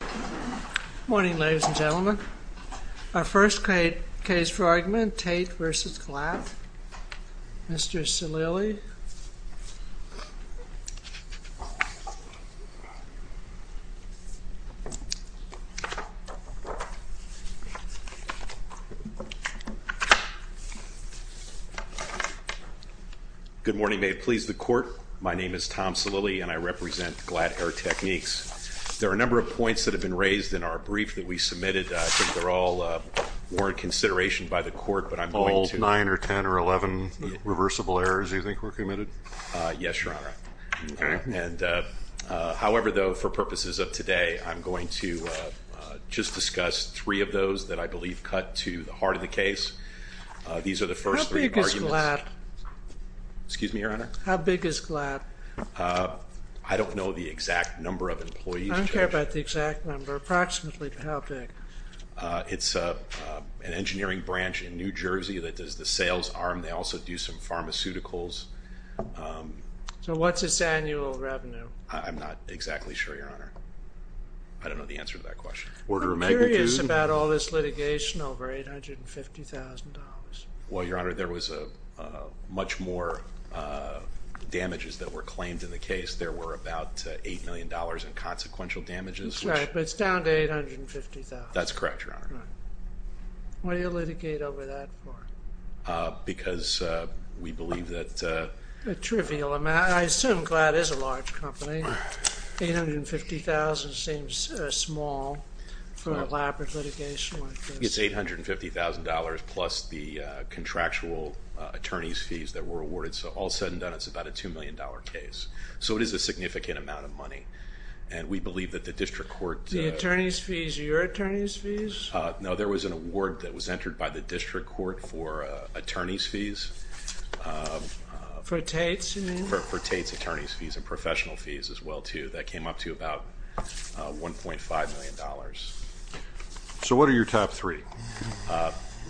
Good morning, ladies and gentlemen. Our first case for argument, Tate v. Glatt. Mr. Salili. Good morning. May it please the Court. My name is Tom Salili and I represent Glatt Air Techniques. There are a number of points that have been raised in our brief that we submitted. I think they're all warranted consideration by the Court, but I'm going to— All nine or ten or eleven reversible errors you think were committed? Yes, Your Honor. However, though, for purposes of today, I'm going to just discuss three of those that I believe cut to the heart of the case. These are the first three arguments— How big is Glatt? Excuse me, Your Honor? How big is Glatt? I don't know the exact number of employees, Judge. I don't care about the exact number. Approximately how big? It's an engineering branch in New Jersey that does the sales arm. They also do some pharmaceuticals. So what's its annual revenue? I'm not exactly sure, Your Honor. I don't know the answer to that question. I'm curious about all this litigation over $850,000. Well, Your Honor, there was much more damages that were claimed in the case. There were about $8 million in consequential damages. That's right, but it's down to $850,000. That's correct, Your Honor. Why do you litigate over that part? Because we believe that— A trivial amount. I assume Glatt is a large company. $850,000 seems small for an elaborate litigation like this. It's $850,000 plus the contractual attorney's fees that were awarded. So all said and done, it's about a $2 million case. So it is a significant amount of money. And we believe that the district court— The attorney's fees, your attorney's fees? No, there was an award that was entered by the district court for attorney's fees. For Tate's, you mean? For Tate's attorney's fees and professional fees as well, too. That came up to about $1.5 million. So what are your top three?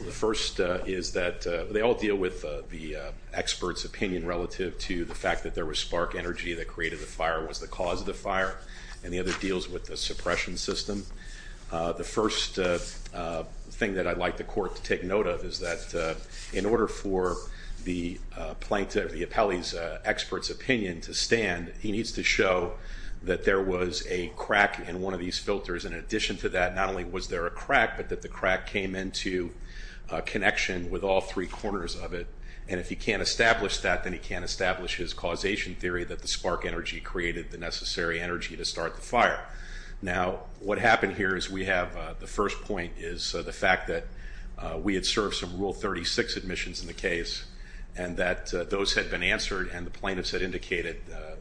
The first is that they all deal with the expert's opinion relative to the fact that there was spark energy that created the fire, was the cause of the fire, and the other deals with the suppression system. The first thing that I'd like the court to take note of is that in order for the plaintiff, the appellee's expert's opinion to stand, he needs to show that there was a crack in one of these filters. In addition to that, not only was there a crack, but that the crack came into connection with all three corners of it. And if he can't establish that, then he can't establish his causation theory that the spark energy created the necessary energy to start the fire. Now, what happened here is we have—the first point is the fact that we had served some Rule 36 admissions in the case and that those had been answered and the plaintiffs had indicated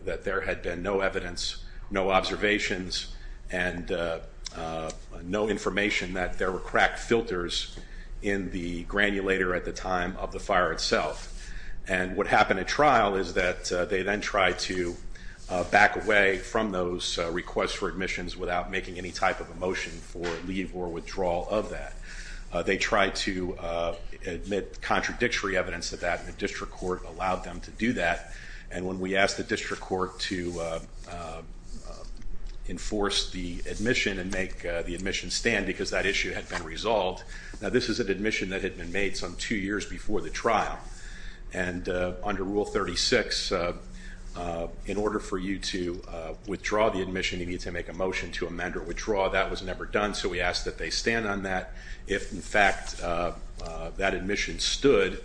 that there had been no evidence, no observations, and no information that there were crack filters in the granulator at the time of the fire itself. And what happened at trial is that they then tried to back away from those requests for admissions without making any type of a motion for leave or withdrawal of that. They tried to admit contradictory evidence of that, and the district court allowed them to do that. And when we asked the district court to enforce the admission and make the admission stand because that issue had been resolved— now, this is an admission that had been made some two years before the trial. And under Rule 36, in order for you to withdraw the admission, you need to make a motion to amend or withdraw. That was never done, so we asked that they stand on that. If, in fact, that admission stood,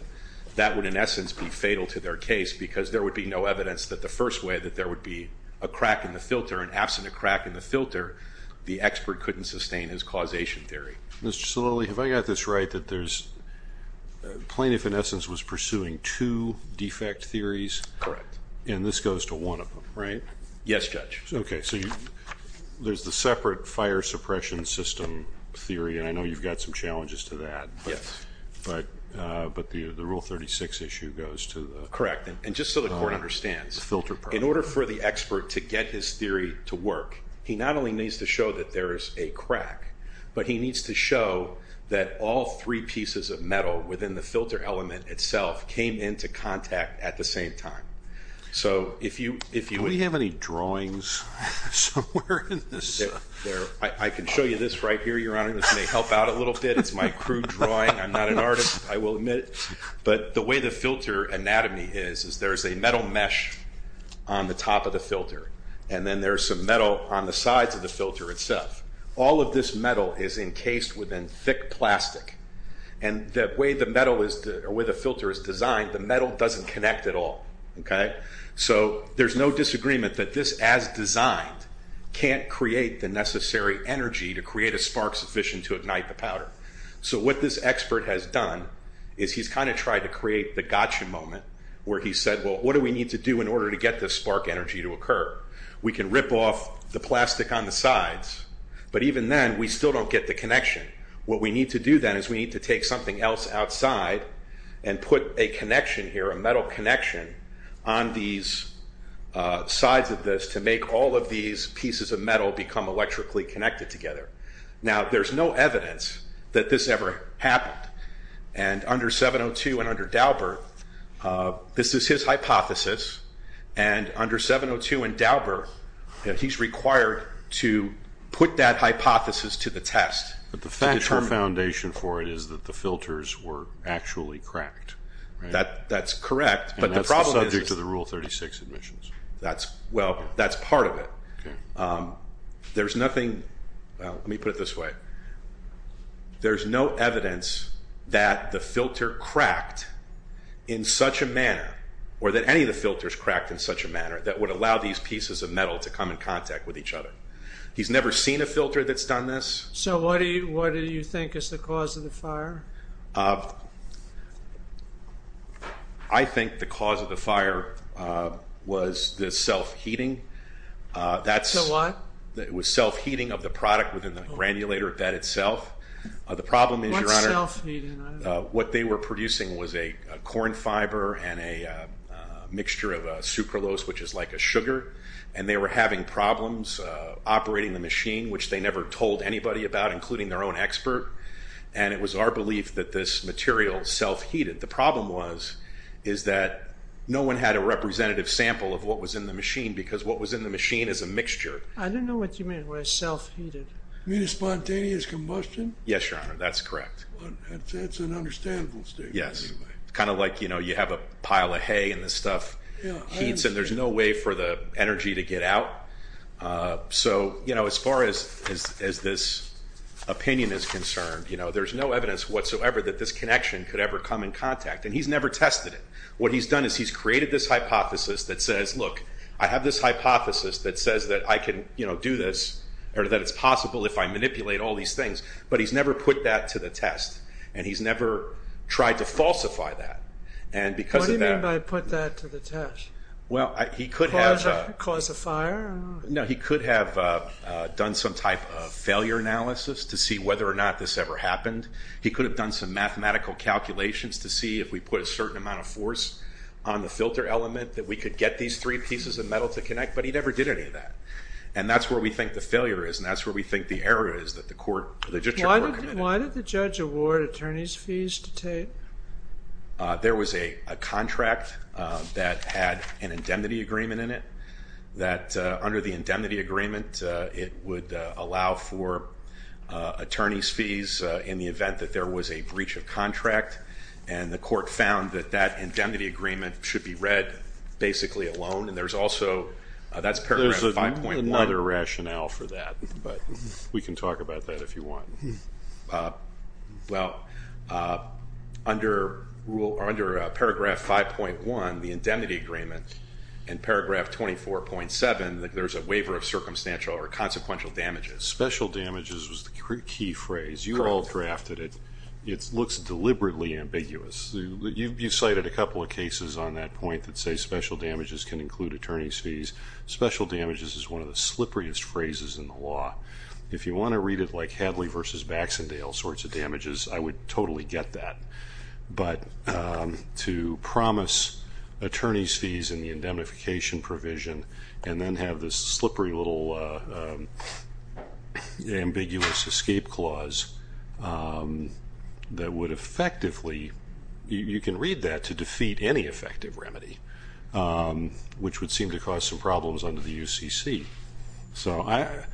that would, in essence, be fatal to their case because there would be no evidence that the first way that there would be a crack in the filter. And absent a crack in the filter, the expert couldn't sustain his causation theory. Mr. Solili, have I got this right, that there's—the plaintiff, in essence, was pursuing two defect theories? Correct. And this goes to one of them, right? Yes, Judge. Okay, so there's the separate fire suppression system theory, and I know you've got some challenges to that. Yes. But the Rule 36 issue goes to the— Correct. And just so the court understands, in order for the expert to get his theory to work, he not only needs to show that there is a crack, but he needs to show that all three pieces of metal within the filter element itself came into contact at the same time. Do we have any drawings somewhere in this? I can show you this right here, Your Honor. This may help out a little bit. It's my crude drawing. I'm not an artist, I will admit. But the way the filter anatomy is is there's a metal mesh on the top of the filter, and then there's some metal on the sides of the filter itself. All of this metal is encased within thick plastic. And the way the filter is designed, the metal doesn't connect at all, okay? So there's no disagreement that this, as designed, can't create the necessary energy to create a spark sufficient to ignite the powder. So what this expert has done is he's kind of tried to create the gotcha moment where he said, well, what do we need to do in order to get this spark energy to occur? We can rip off the plastic on the sides, but even then we still don't get the connection. What we need to do then is we need to take something else outside and put a connection here, a metal connection on these sides of this to make all of these pieces of metal become electrically connected together. Now, there's no evidence that this ever happened. And under 702 and under Daubert, this is his hypothesis. And under 702 and Daubert, he's required to put that hypothesis to the test. But the factual foundation for it is that the filters were actually cracked, right? That's correct. And that's the subject of the Rule 36 admissions. Well, that's part of it. Okay. There's nothing, let me put it this way. There's no evidence that the filter cracked in such a manner or that any of the filters cracked in such a manner that would allow these pieces of metal to come in contact with each other. He's never seen a filter that's done this. So what do you think is the cause of the fire? I think the cause of the fire was the self-heating. The what? It was self-heating of the product within the granulator bed itself. The problem is, Your Honor, what they were producing was a corn fiber and a mixture of sucralose, which is like a sugar. And they were having problems operating the machine, which they never told anybody about, including their own expert. And it was our belief that this material self-heated. The problem was is that no one had a representative sample of what was in the machine because what was in the machine is a mixture. I don't know what you mean by self-heated. You mean a spontaneous combustion? Yes, Your Honor, that's correct. That's an understandable statement. Yes. Kind of like, you know, you have a pile of hay and this stuff heats and there's no way for the energy to get out. So, you know, as far as this opinion is concerned, you know, there's no evidence whatsoever that this connection could ever come in contact. And he's never tested it. What he's done is he's created this hypothesis that says, look, I have this hypothesis that says that I can, you know, do this or that it's possible if I manipulate all these things. But he's never put that to the test and he's never tried to falsify that. And because of that. What do you mean by put that to the test? Well, he could have. Cause a fire? No, he could have done some type of failure analysis to see whether or not this ever happened. He could have done some mathematical calculations to see if we put a certain amount of force on the filter element that we could get these three pieces of metal to connect. But he never did any of that. And that's where we think the failure is. And that's where we think the error is that the court. Why did the judge award attorney's fees to Tate? There was a contract that had an indemnity agreement in it that under the indemnity agreement, it would allow for attorney's fees in the event that there was a breach of contract. And the court found that that indemnity agreement should be read basically alone. And there's also, that's paragraph 5.1. There's another rationale for that, but we can talk about that if you want. Well, under paragraph 5.1, the indemnity agreement, and paragraph 24.7, there's a waiver of circumstantial or consequential damages. Special damages was the key phrase. You all drafted it. It looks deliberately ambiguous. You cited a couple of cases on that point that say special damages can include attorney's fees. Special damages is one of the slipperiest phrases in the law. If you want to read it like Hadley versus Baxendale sorts of damages, I would totally get that. But to promise attorney's fees in the indemnification provision, and then have this slippery little ambiguous escape clause that would effectively, you can read that to defeat any effective remedy, which would seem to cause some problems under the UCC. So I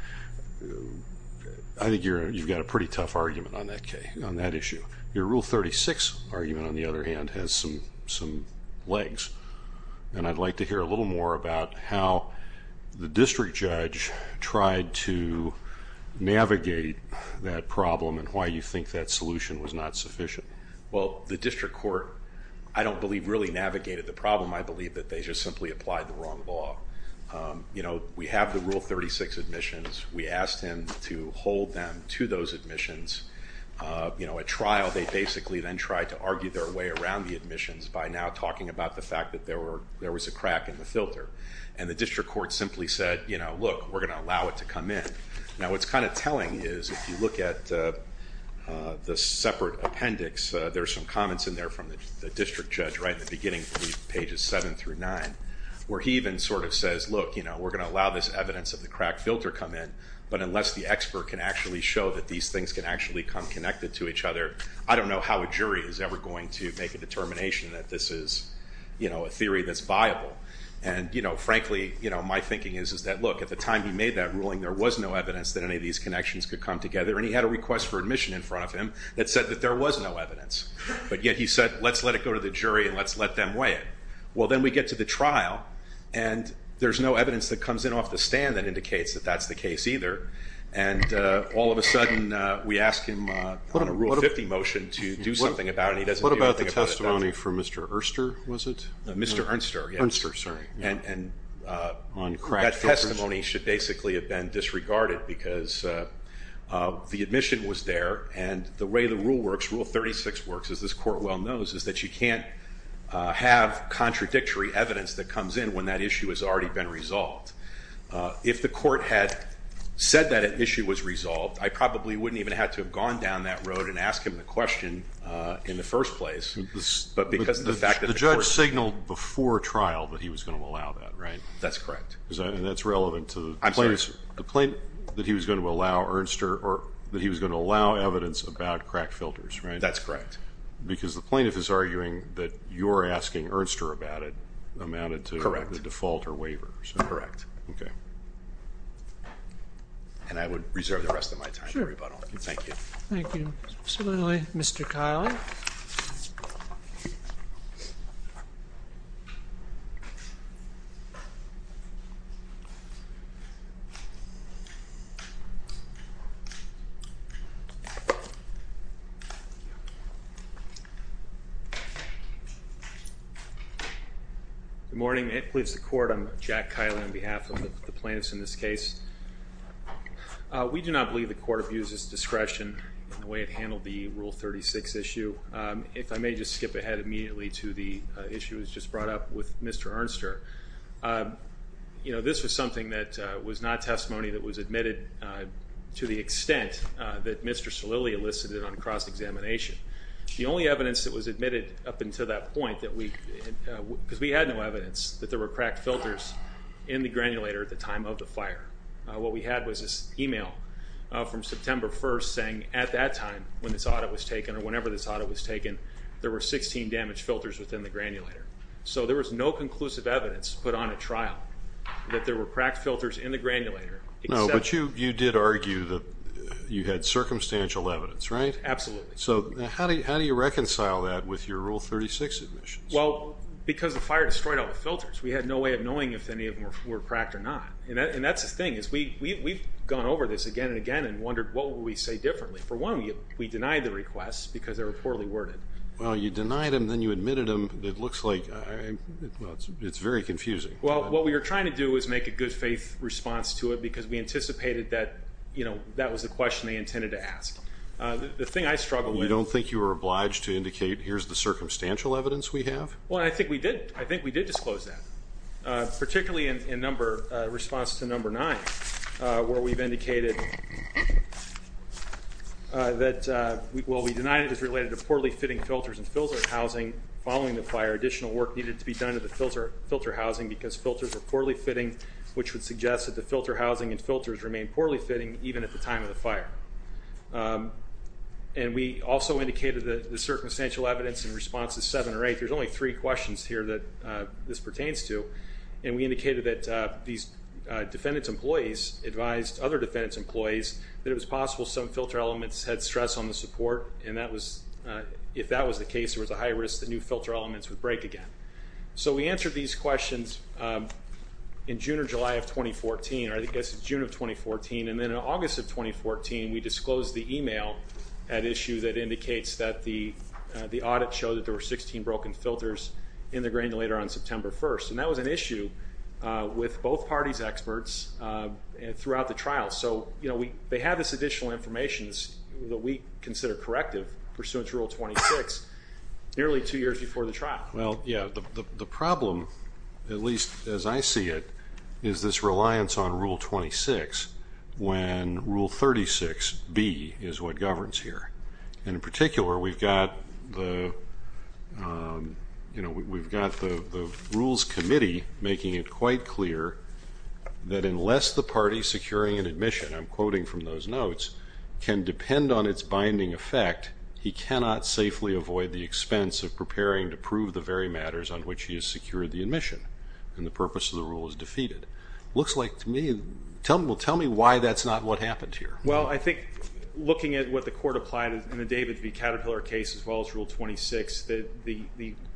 think you've got a pretty tough argument on that issue. Your Rule 36 argument, on the other hand, has some legs. And I'd like to hear a little more about how the district judge tried to navigate that problem and why you think that solution was not sufficient. Well, the district court, I don't believe, really navigated the problem. I believe that they just simply applied the wrong law. You know, we have the Rule 36 admissions. We asked him to hold them to those admissions. You know, at trial, they basically then tried to argue their way around the admissions by now talking about the fact that there was a crack in the filter. And the district court simply said, you know, look, we're going to allow it to come in. Now what's kind of telling is if you look at the separate appendix, there's some comments in there from the district judge right in the beginning, I believe pages 7 through 9, where he even sort of says, look, you know, we're going to allow this evidence of the crack filter come in, but unless the expert can actually show that these things can actually come connected to each other, I don't know how a jury is ever going to make a determination that this is, you know, a theory that's viable. And, you know, frankly, you know, my thinking is that, look, at the time he made that ruling, there was no evidence that any of these connections could come together. And he had a request for admission in front of him that said that there was no evidence. But yet he said, let's let it go to the jury and let's let them weigh it. Well, then we get to the trial and there's no evidence that comes in off the stand that indicates that that's the case either. And all of a sudden we ask him on a Rule 50 motion to do something about it. And he doesn't do anything about it. What about the testimony from Mr. Erster, was it? Mr. Ernster, yes. Ernster, sorry. And that testimony should basically have been disregarded because the admission was there and the way the rule works, Rule 36 works, as this court well knows, is that you can't have contradictory evidence that comes in when that issue has already been resolved. If the court had said that issue was resolved, I probably wouldn't even have had to have gone down that road and asked him the question in the first place. But because of the fact that the court- The judge signaled before trial that he was going to allow that, right? And that's relevant to- I'm sorry. Yes, the plaintiff, that he was going to allow Ernster or that he was going to allow evidence about crack filters, right? That's correct. Because the plaintiff is arguing that your asking Ernster about it amounted to the default or waivers. Correct. Okay. And I would reserve the rest of my time for rebuttal. Thank you. Thank you. Absolutely. Mr. Kiley. Good morning. It pleads the court, I'm Jack Kiley on behalf of the plaintiffs in this case. We do not believe the court abuses discretion in the way it handled the Rule 36 issue. If I may just skip ahead immediately to the issue that was just brought up with Mr. Ernster. You know, this was something that was not testimony that was admitted to the extent that Mr. Salili elicited on cross-examination. The only evidence that was admitted up until that point that we- because we had no evidence that there were crack filters in the granulator at the time of the fire. What we had was this email from September 1st saying at that time when this audit was taken or whenever this audit was taken, there were 16 damage filters within the granulator. So there was no conclusive evidence put on a trial that there were crack filters in the granulator except- No, but you did argue that you had circumstantial evidence, right? Absolutely. So how do you reconcile that with your Rule 36 admissions? Well, because the fire destroyed all the filters. We had no way of knowing if any of them were cracked or not. And that's the thing is we've gone over this again and again and wondered what would we say differently. For one, we denied the requests because they were poorly worded. Well, you denied them, then you admitted them. It looks like- well, it's very confusing. Well, what we were trying to do was make a good-faith response to it because we anticipated that, you know, that was the question they intended to ask. The thing I struggle with- You don't think you were obliged to indicate here's the circumstantial evidence we have? Well, I think we did. I think we did disclose that, particularly in response to Number 9 where we've indicated that- following the fire, additional work needed to be done to the filter housing because filters were poorly fitting, which would suggest that the filter housing and filters remained poorly fitting even at the time of the fire. And we also indicated that the circumstantial evidence in response to 7 or 8, there's only three questions here that this pertains to, and we indicated that these defendant's employees advised other defendant's employees that it was possible some filter elements had stress on the support, and if that was the case, there was a high risk that new filter elements would break again. So we answered these questions in June or July of 2014, or I guess it's June of 2014, and then in August of 2014, we disclosed the email at issue that indicates that the audit showed that there were 16 broken filters in the granulator on September 1st. And that was an issue with both parties' experts throughout the trial. So, you know, they have this additional information that we consider corrective pursuant to Rule 26 nearly two years before the trial. Well, yeah. The problem, at least as I see it, is this reliance on Rule 26 when Rule 36B is what governs here. And in particular, we've got the Rules Committee making it quite clear that unless the party securing an admission, I'm quoting from those notes, can depend on its binding effect, he cannot safely avoid the expense of preparing to prove the very matters on which he has secured the admission, and the purpose of the rule is defeated. Looks like to me, well, tell me why that's not what happened here. Well, I think looking at what the court applied in the David v. Caterpillar case as well as Rule 26, the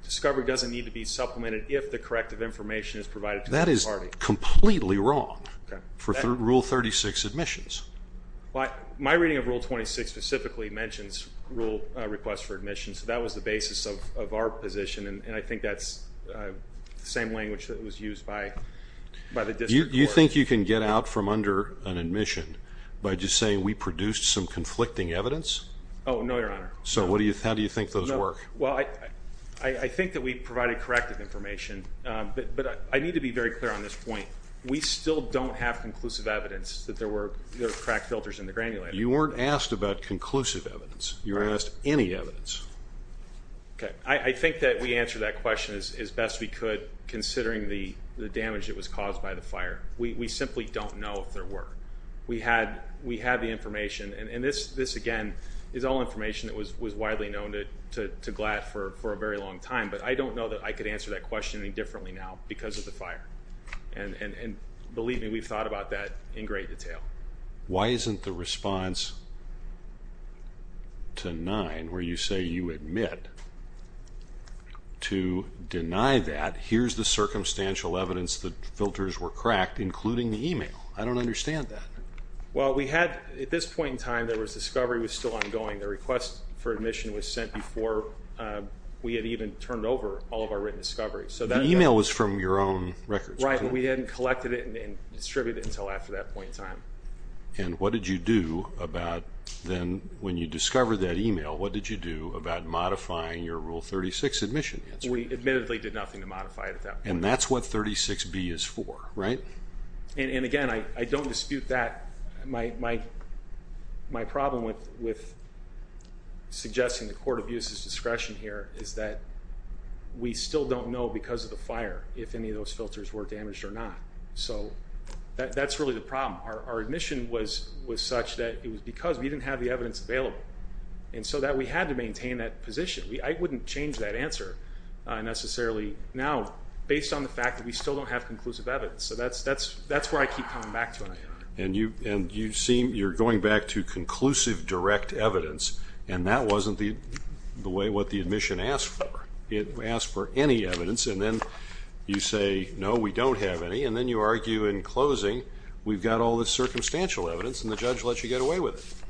discovery doesn't need to be supplemented if the corrective information is provided to the party. That is completely wrong for Rule 36 admissions. My reading of Rule 26 specifically mentions rule requests for admission, so that was the basis of our position, and I think that's the same language that was used by the district court. Do you think you can get out from under an admission by just saying we produced some conflicting evidence? Oh, no, Your Honor. So how do you think those work? Well, I think that we provided corrective information, but I need to be very clear on this point. We still don't have conclusive evidence that there were crack filters in the granulator. You weren't asked about conclusive evidence. You were asked any evidence. Okay. I think that we answered that question as best we could considering the damage that was caused by the fire. We simply don't know if there were. We had the information, and this, again, is all information that was widely known to GLAD for a very long time, but I don't know that I could answer that question any differently now because of the fire, and believe me, we've thought about that in great detail. Why isn't the response to nine where you say you admit to deny that here's the circumstantial evidence that filters were cracked, including the email? I don't understand that. Well, we had at this point in time there was discovery was still ongoing. The request for admission was sent before we had even turned over all of our written discovery. The email was from your own records. Right. We hadn't collected it and distributed it until after that point in time. And what did you do about then when you discovered that email, what did you do about modifying your Rule 36 admission? We admittedly did nothing to modify it at that point. And that's what 36B is for, right? And, again, I don't dispute that. My problem with suggesting the court abuses discretion here is that we still don't know because of the fire if any of those filters were damaged or not. So that's really the problem. Our admission was such that it was because we didn't have the evidence available, and so that we had to maintain that position. I wouldn't change that answer necessarily now based on the fact that we still don't have conclusive evidence. So that's where I keep coming back to. And you're going back to conclusive direct evidence, and that wasn't the way what the admission asked for. It asked for any evidence, and then you say, no, we don't have any, and then you argue in closing we've got all this circumstantial evidence, and the judge lets you get away with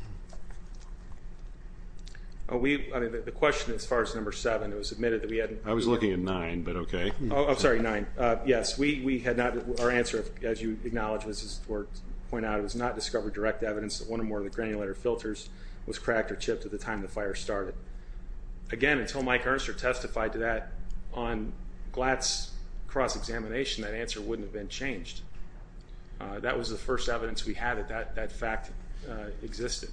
it. The question as far as number seven, it was admitted that we hadn't. I was looking at nine, but okay. I'm sorry, nine. Yes, we had not. Our answer, as you acknowledged, was to point out it was not discovered direct evidence that one or more of the granulator filters was cracked or chipped at the time the fire started. Again, until Mike Ernst testified to that on Glatt's cross-examination, that answer wouldn't have been changed. That was the first evidence we had that that fact existed.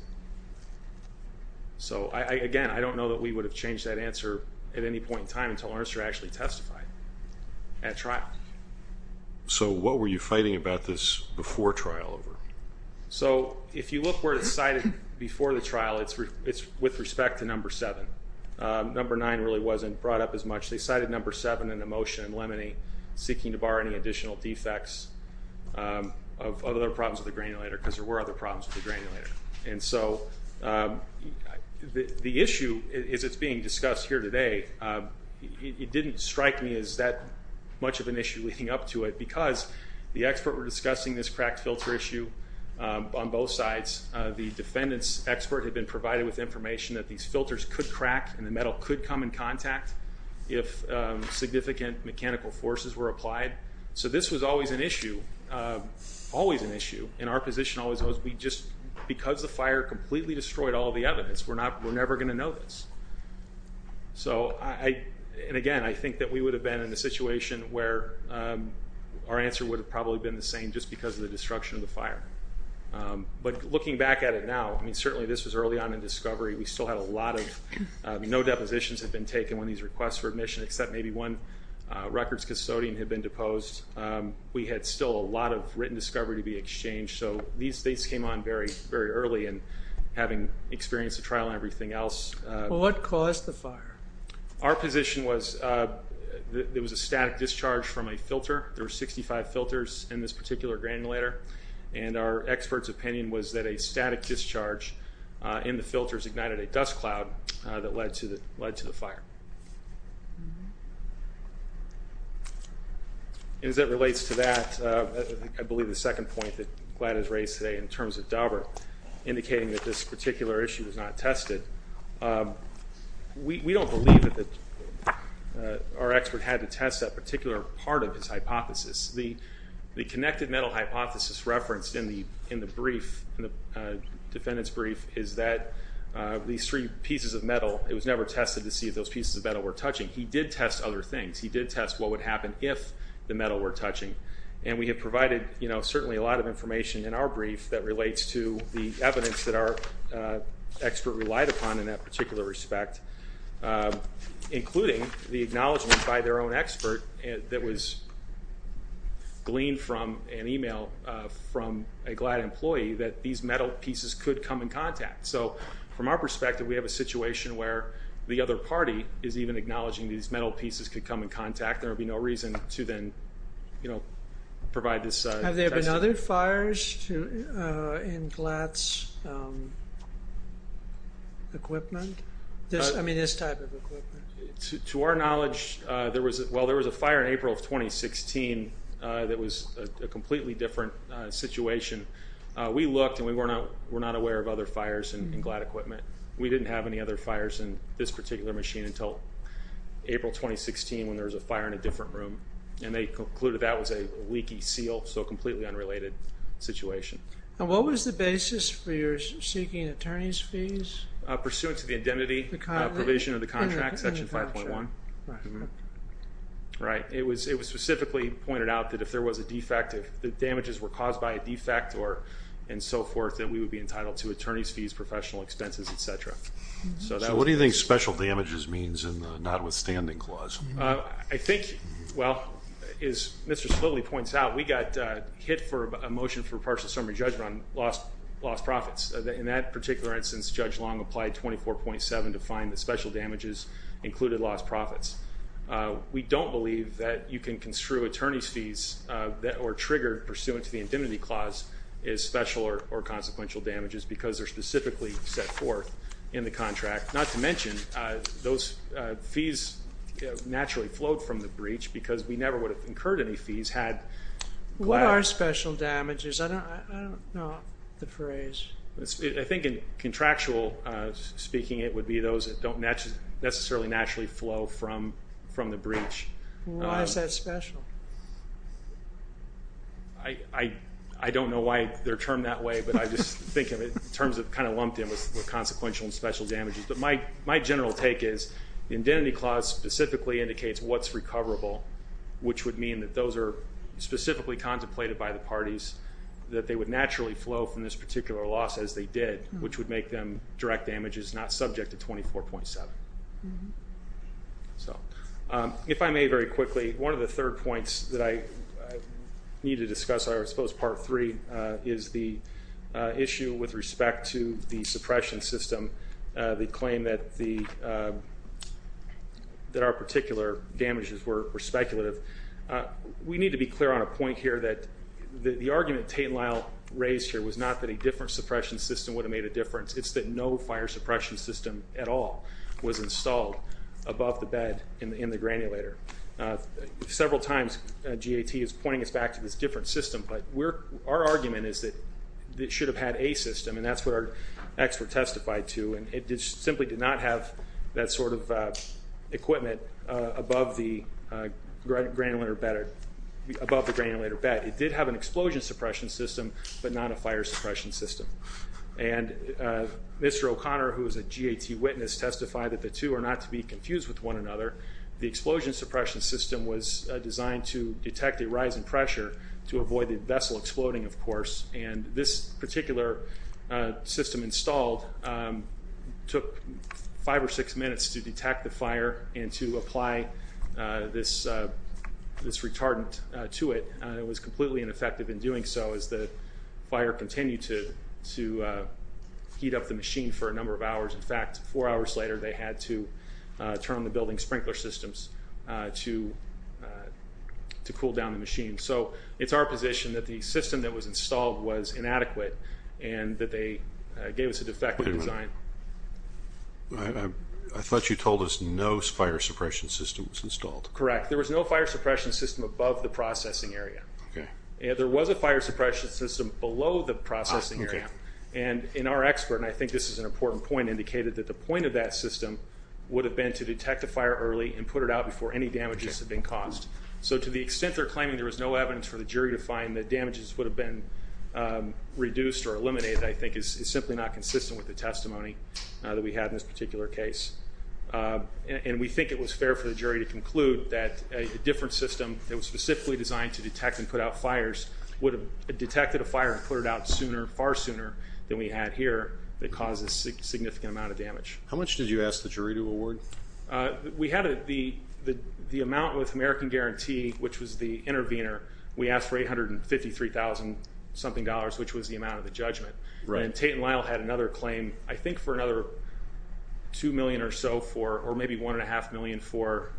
So, again, I don't know that we would have changed that answer at any point in time until Ernst actually testified at trial. So what were you fighting about this before trial? So if you look where it's cited before the trial, it's with respect to number seven. Number nine really wasn't brought up as much. They cited number seven in the motion in Lemony, seeking to bar any additional defects of other problems with the granulator because there were other problems with the granulator. And so the issue as it's being discussed here today, it didn't strike me as that much of an issue leading up to it because the expert were discussing this cracked filter issue on both sides. The defendant's expert had been provided with information that these filters could crack and the metal could come in contact if significant mechanical forces were applied. So this was always an issue, always an issue. And our position always was we just, because the fire completely destroyed all the evidence, we're never going to know this. So I, and again, I think that we would have been in a situation where our answer would have probably been the same just because of the destruction of the fire. But looking back at it now, I mean, certainly this was early on in discovery. We still had a lot of, no depositions had been taken when these requests for admission except maybe one records custodian had been deposed. We had still a lot of written discovery to be exchanged. So these things came on very early and having experienced the trial and everything else. What caused the fire? Our position was there was a static discharge from a filter. There were 65 filters in this particular granulator. And our expert's opinion was that a static discharge in the filters ignited a dust cloud that led to the fire. And as it relates to that, I believe the second point that Gladys raised today in terms of Daubert, indicating that this particular issue was not tested, we don't believe that our expert had to test that particular part of his hypothesis. The connected metal hypothesis referenced in the brief, in the defendant's brief, is that these three pieces of metal, it was never tested to see if those pieces of metal were touching. He did test other things. He did test what would happen if the metal were touching. And we have provided, you know, certainly a lot of information in our brief that relates to the evidence that our expert relied upon in that particular respect, including the acknowledgment by their own expert that was gleaned from an email from a GLAD employee that these metal pieces could come in contact. So, from our perspective, we have a situation where the other party is even acknowledging these metal pieces could come in contact. There would be no reason to then, you know, provide this testing. Have there been other fires in GLAD's equipment? I mean, this type of equipment. To our knowledge, there was a fire in April of 2016 that was a completely different situation. We looked and we were not aware of other fires in GLAD equipment. We didn't have any other fires in this particular machine until April 2016 when there was a fire in a different room. And they concluded that was a leaky seal, so a completely unrelated situation. And what was the basis for your seeking attorney's fees? Pursuant to the indemnity provision of the contract, section 5.1. Right. It was specifically pointed out that if there was a defect, if the damages were caused by a defect and so forth, that we would be entitled to attorney's fees, professional expenses, et cetera. So what do you think special damages means in the notwithstanding clause? I think, well, as Mr. Spilley points out, we got hit for a motion for partial summary judgment on lost profits. In that particular instance, Judge Long applied 24.7 to find that special damages included lost profits. We don't believe that you can construe attorney's fees that were triggered pursuant to the indemnity clause as special or consequential damages because they're specifically set forth in the contract. Not to mention those fees naturally flowed from the breach because we never would have incurred any fees had GLAD. What are special damages? I don't know the phrase. I think in contractual speaking, it would be those that don't necessarily naturally flow from the breach. Why is that special? I don't know why they're termed that way, but I just think of it in terms of kind of lumped in with consequential and special damages. But my general take is the indemnity clause specifically indicates what's recoverable, which would mean that those are specifically contemplated by the parties, that they would naturally flow from this particular loss as they did, which would make them direct damages not subject to 24.7. If I may very quickly, one of the third points that I need to discuss, I suppose part three, is the issue with respect to the suppression system, the claim that our particular damages were speculative. We need to be clear on a point here that the argument Tate and Lyle raised here was not that a different suppression system would have made a difference. It's that no fire suppression system at all was installed above the bed in the granulator. Several times, GAT is pointing us back to this different system, but our argument is that it should have had a system, and that's what our expert testified to, and it simply did not have that sort of equipment above the granulator bed. It did have an explosion suppression system, but not a fire suppression system. And Mr. O'Connor, who is a GAT witness, testified that the two are not to be confused with one another. The explosion suppression system was designed to detect a rise in pressure to avoid the vessel exploding, of course, and this particular system installed took five or six minutes to detect the fire and to apply this retardant to it. It was completely ineffective in doing so as the fire continued to heat up the machine for a number of hours. In fact, four hours later, they had to turn on the building sprinkler systems to cool down the machine. So it's our position that the system that was installed was inadequate and that they gave us a defective design. I thought you told us no fire suppression system was installed. Correct. There was no fire suppression system above the processing area. There was a fire suppression system below the processing area, and our expert, and I think this is an important point, indicated that the point of that system would have been to detect a fire early and put it out before any damages had been caused. So to the extent they're claiming there was no evidence for the jury to find, the damages would have been reduced or eliminated, I think, is simply not consistent with the testimony that we have in this particular case. And we think it was fair for the jury to conclude that a different system that was specifically designed to detect and put out fires would have detected a fire and put it out sooner, far sooner, than we had here that caused a significant amount of damage. How much did you ask the jury to award? We had the amount with American Guarantee, which was the intervener. We asked for $853,000-something, which was the amount of the judgment. And Tate & Lyle had another claim, I think for another $2 million or so for, or maybe $1.5 million for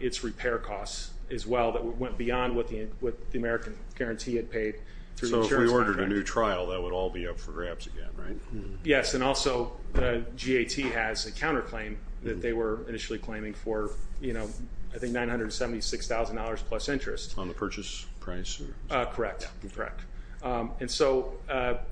its repair costs as well that went beyond what the American Guarantee had paid. So if we ordered a new trial, that would all be up for grabs again, right? Yes, and also GAT has a counterclaim that they were initially claiming for, you know, I think $976,000 plus interest. On the purchase price? Correct, correct. And so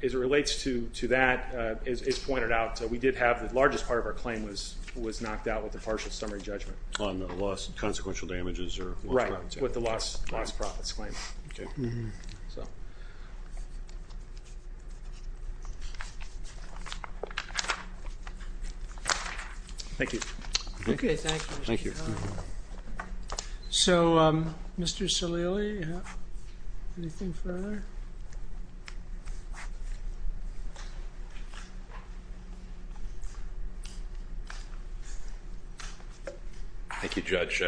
as it relates to that, as is pointed out, we did have the largest part of our claim was knocked out with the partial summary judgment. On the loss and consequential damages? Right, with the lost profits claim. Thank you. Okay, thank you. Thank you. So, Mr. Salili, anything further? Thank you, Judge.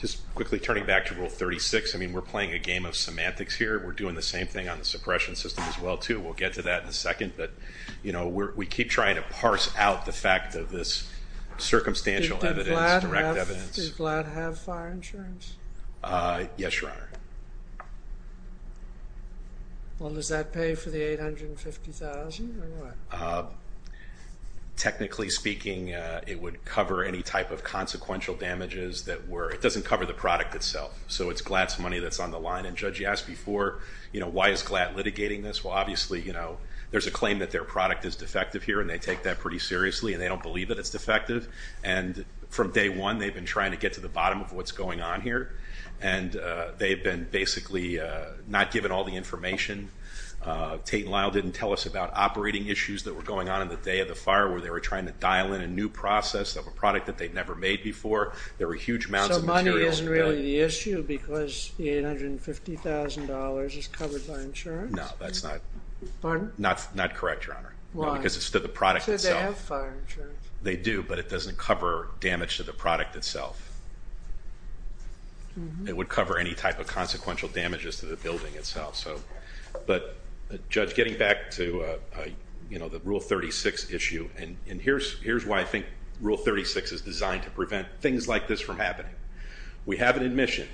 Just quickly turning back to Rule 36, I mean, we're playing a game of semantics here. We're doing the same thing on the suppression system as well, too. We'll get to that in a second, but, you know, we keep trying to parse out the fact of this circumstantial evidence, direct evidence. Did GLAD have fire insurance? Yes, Your Honor. Well, does that pay for the $850,000 or what? Technically speaking, it would cover any type of consequential damages that were, it doesn't cover the product itself, so it's GLAD's money that's on the line. And, Judge, you asked before, you know, why is GLAD litigating this? Well, obviously, you know, there's a claim that their product is defective here, and they take that pretty seriously, and they don't believe that it's defective. And from day one, they've been trying to get to the bottom of what's going on here, and they've been basically not given all the information. Tate and Lyle didn't tell us about operating issues that were going on in the day of the fire where they were trying to dial in a new process of a product that they'd never made before. There were huge amounts of material. So money isn't really the issue because the $850,000 is covered by insurance? No, that's not correct, Your Honor. Why? Because it's to the product itself. So they have fire insurance? They do, but it doesn't cover damage to the product itself. It would cover any type of consequential damages to the building itself. But, Judge, getting back to, you know, the Rule 36 issue, and here's why I think Rule 36 is designed to prevent things like this from happening. We have an admission.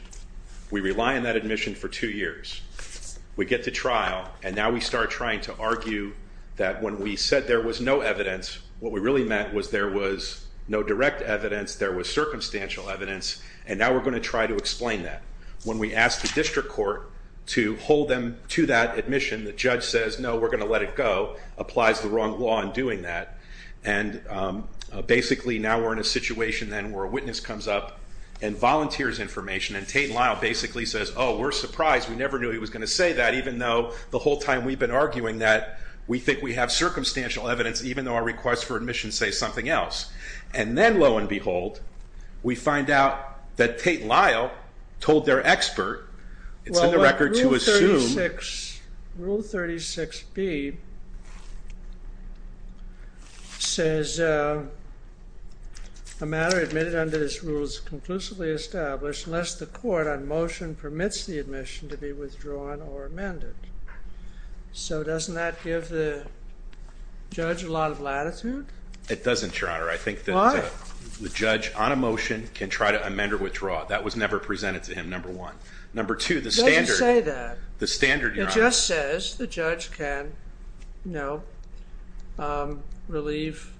We rely on that admission for two years. We get to trial, and now we start trying to argue that when we said there was no evidence, what we really meant was there was no direct evidence, there was circumstantial evidence, and now we're going to try to explain that. When we ask the district court to hold them to that admission, the judge says, no, we're going to let it go, applies the wrong law in doing that, and basically now we're in a situation then where a witness comes up and volunteers information, and Tate and Lyle basically says, oh, we're surprised. We never knew he was going to say that, even though the whole time we've been arguing that we think we have circumstantial evidence, even though our requests for admission say something else. And then, lo and behold, we find out that Tate and Lyle told their expert, it's in the record to assume. Rule 36B says a matter admitted under this rule is conclusively established unless the court on motion permits the admission to be withdrawn or amended. So doesn't that give the judge a lot of latitude? It doesn't, Your Honor. Why? I think the judge on a motion can try to amend or withdraw. That was never presented to him, number one. Number two, the standard. It doesn't say that. The standard, Your Honor. It just says the judge can, no, relieve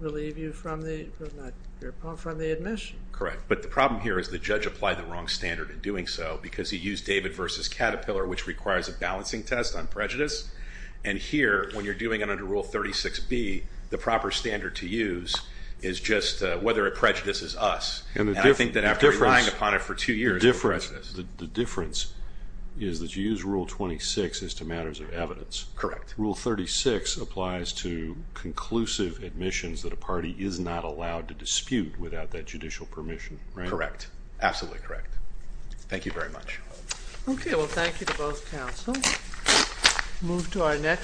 you from the admission. Correct. But the problem here is the judge applied the wrong standard in doing so because he used David v. Caterpillar, which requires a balancing test on prejudice. And here, when you're doing it under Rule 36B, the proper standard to use is just whether it prejudices us. And I think that after relying upon it for two years, it prejudices us. The difference is that you use Rule 26 as to matters of evidence. Correct. Rule 36 applies to conclusive admissions that a party is not allowed to dispute without that judicial permission, right? Correct. Absolutely correct. Thank you very much. Okay. Well, thank you to both counsel. Move to our next.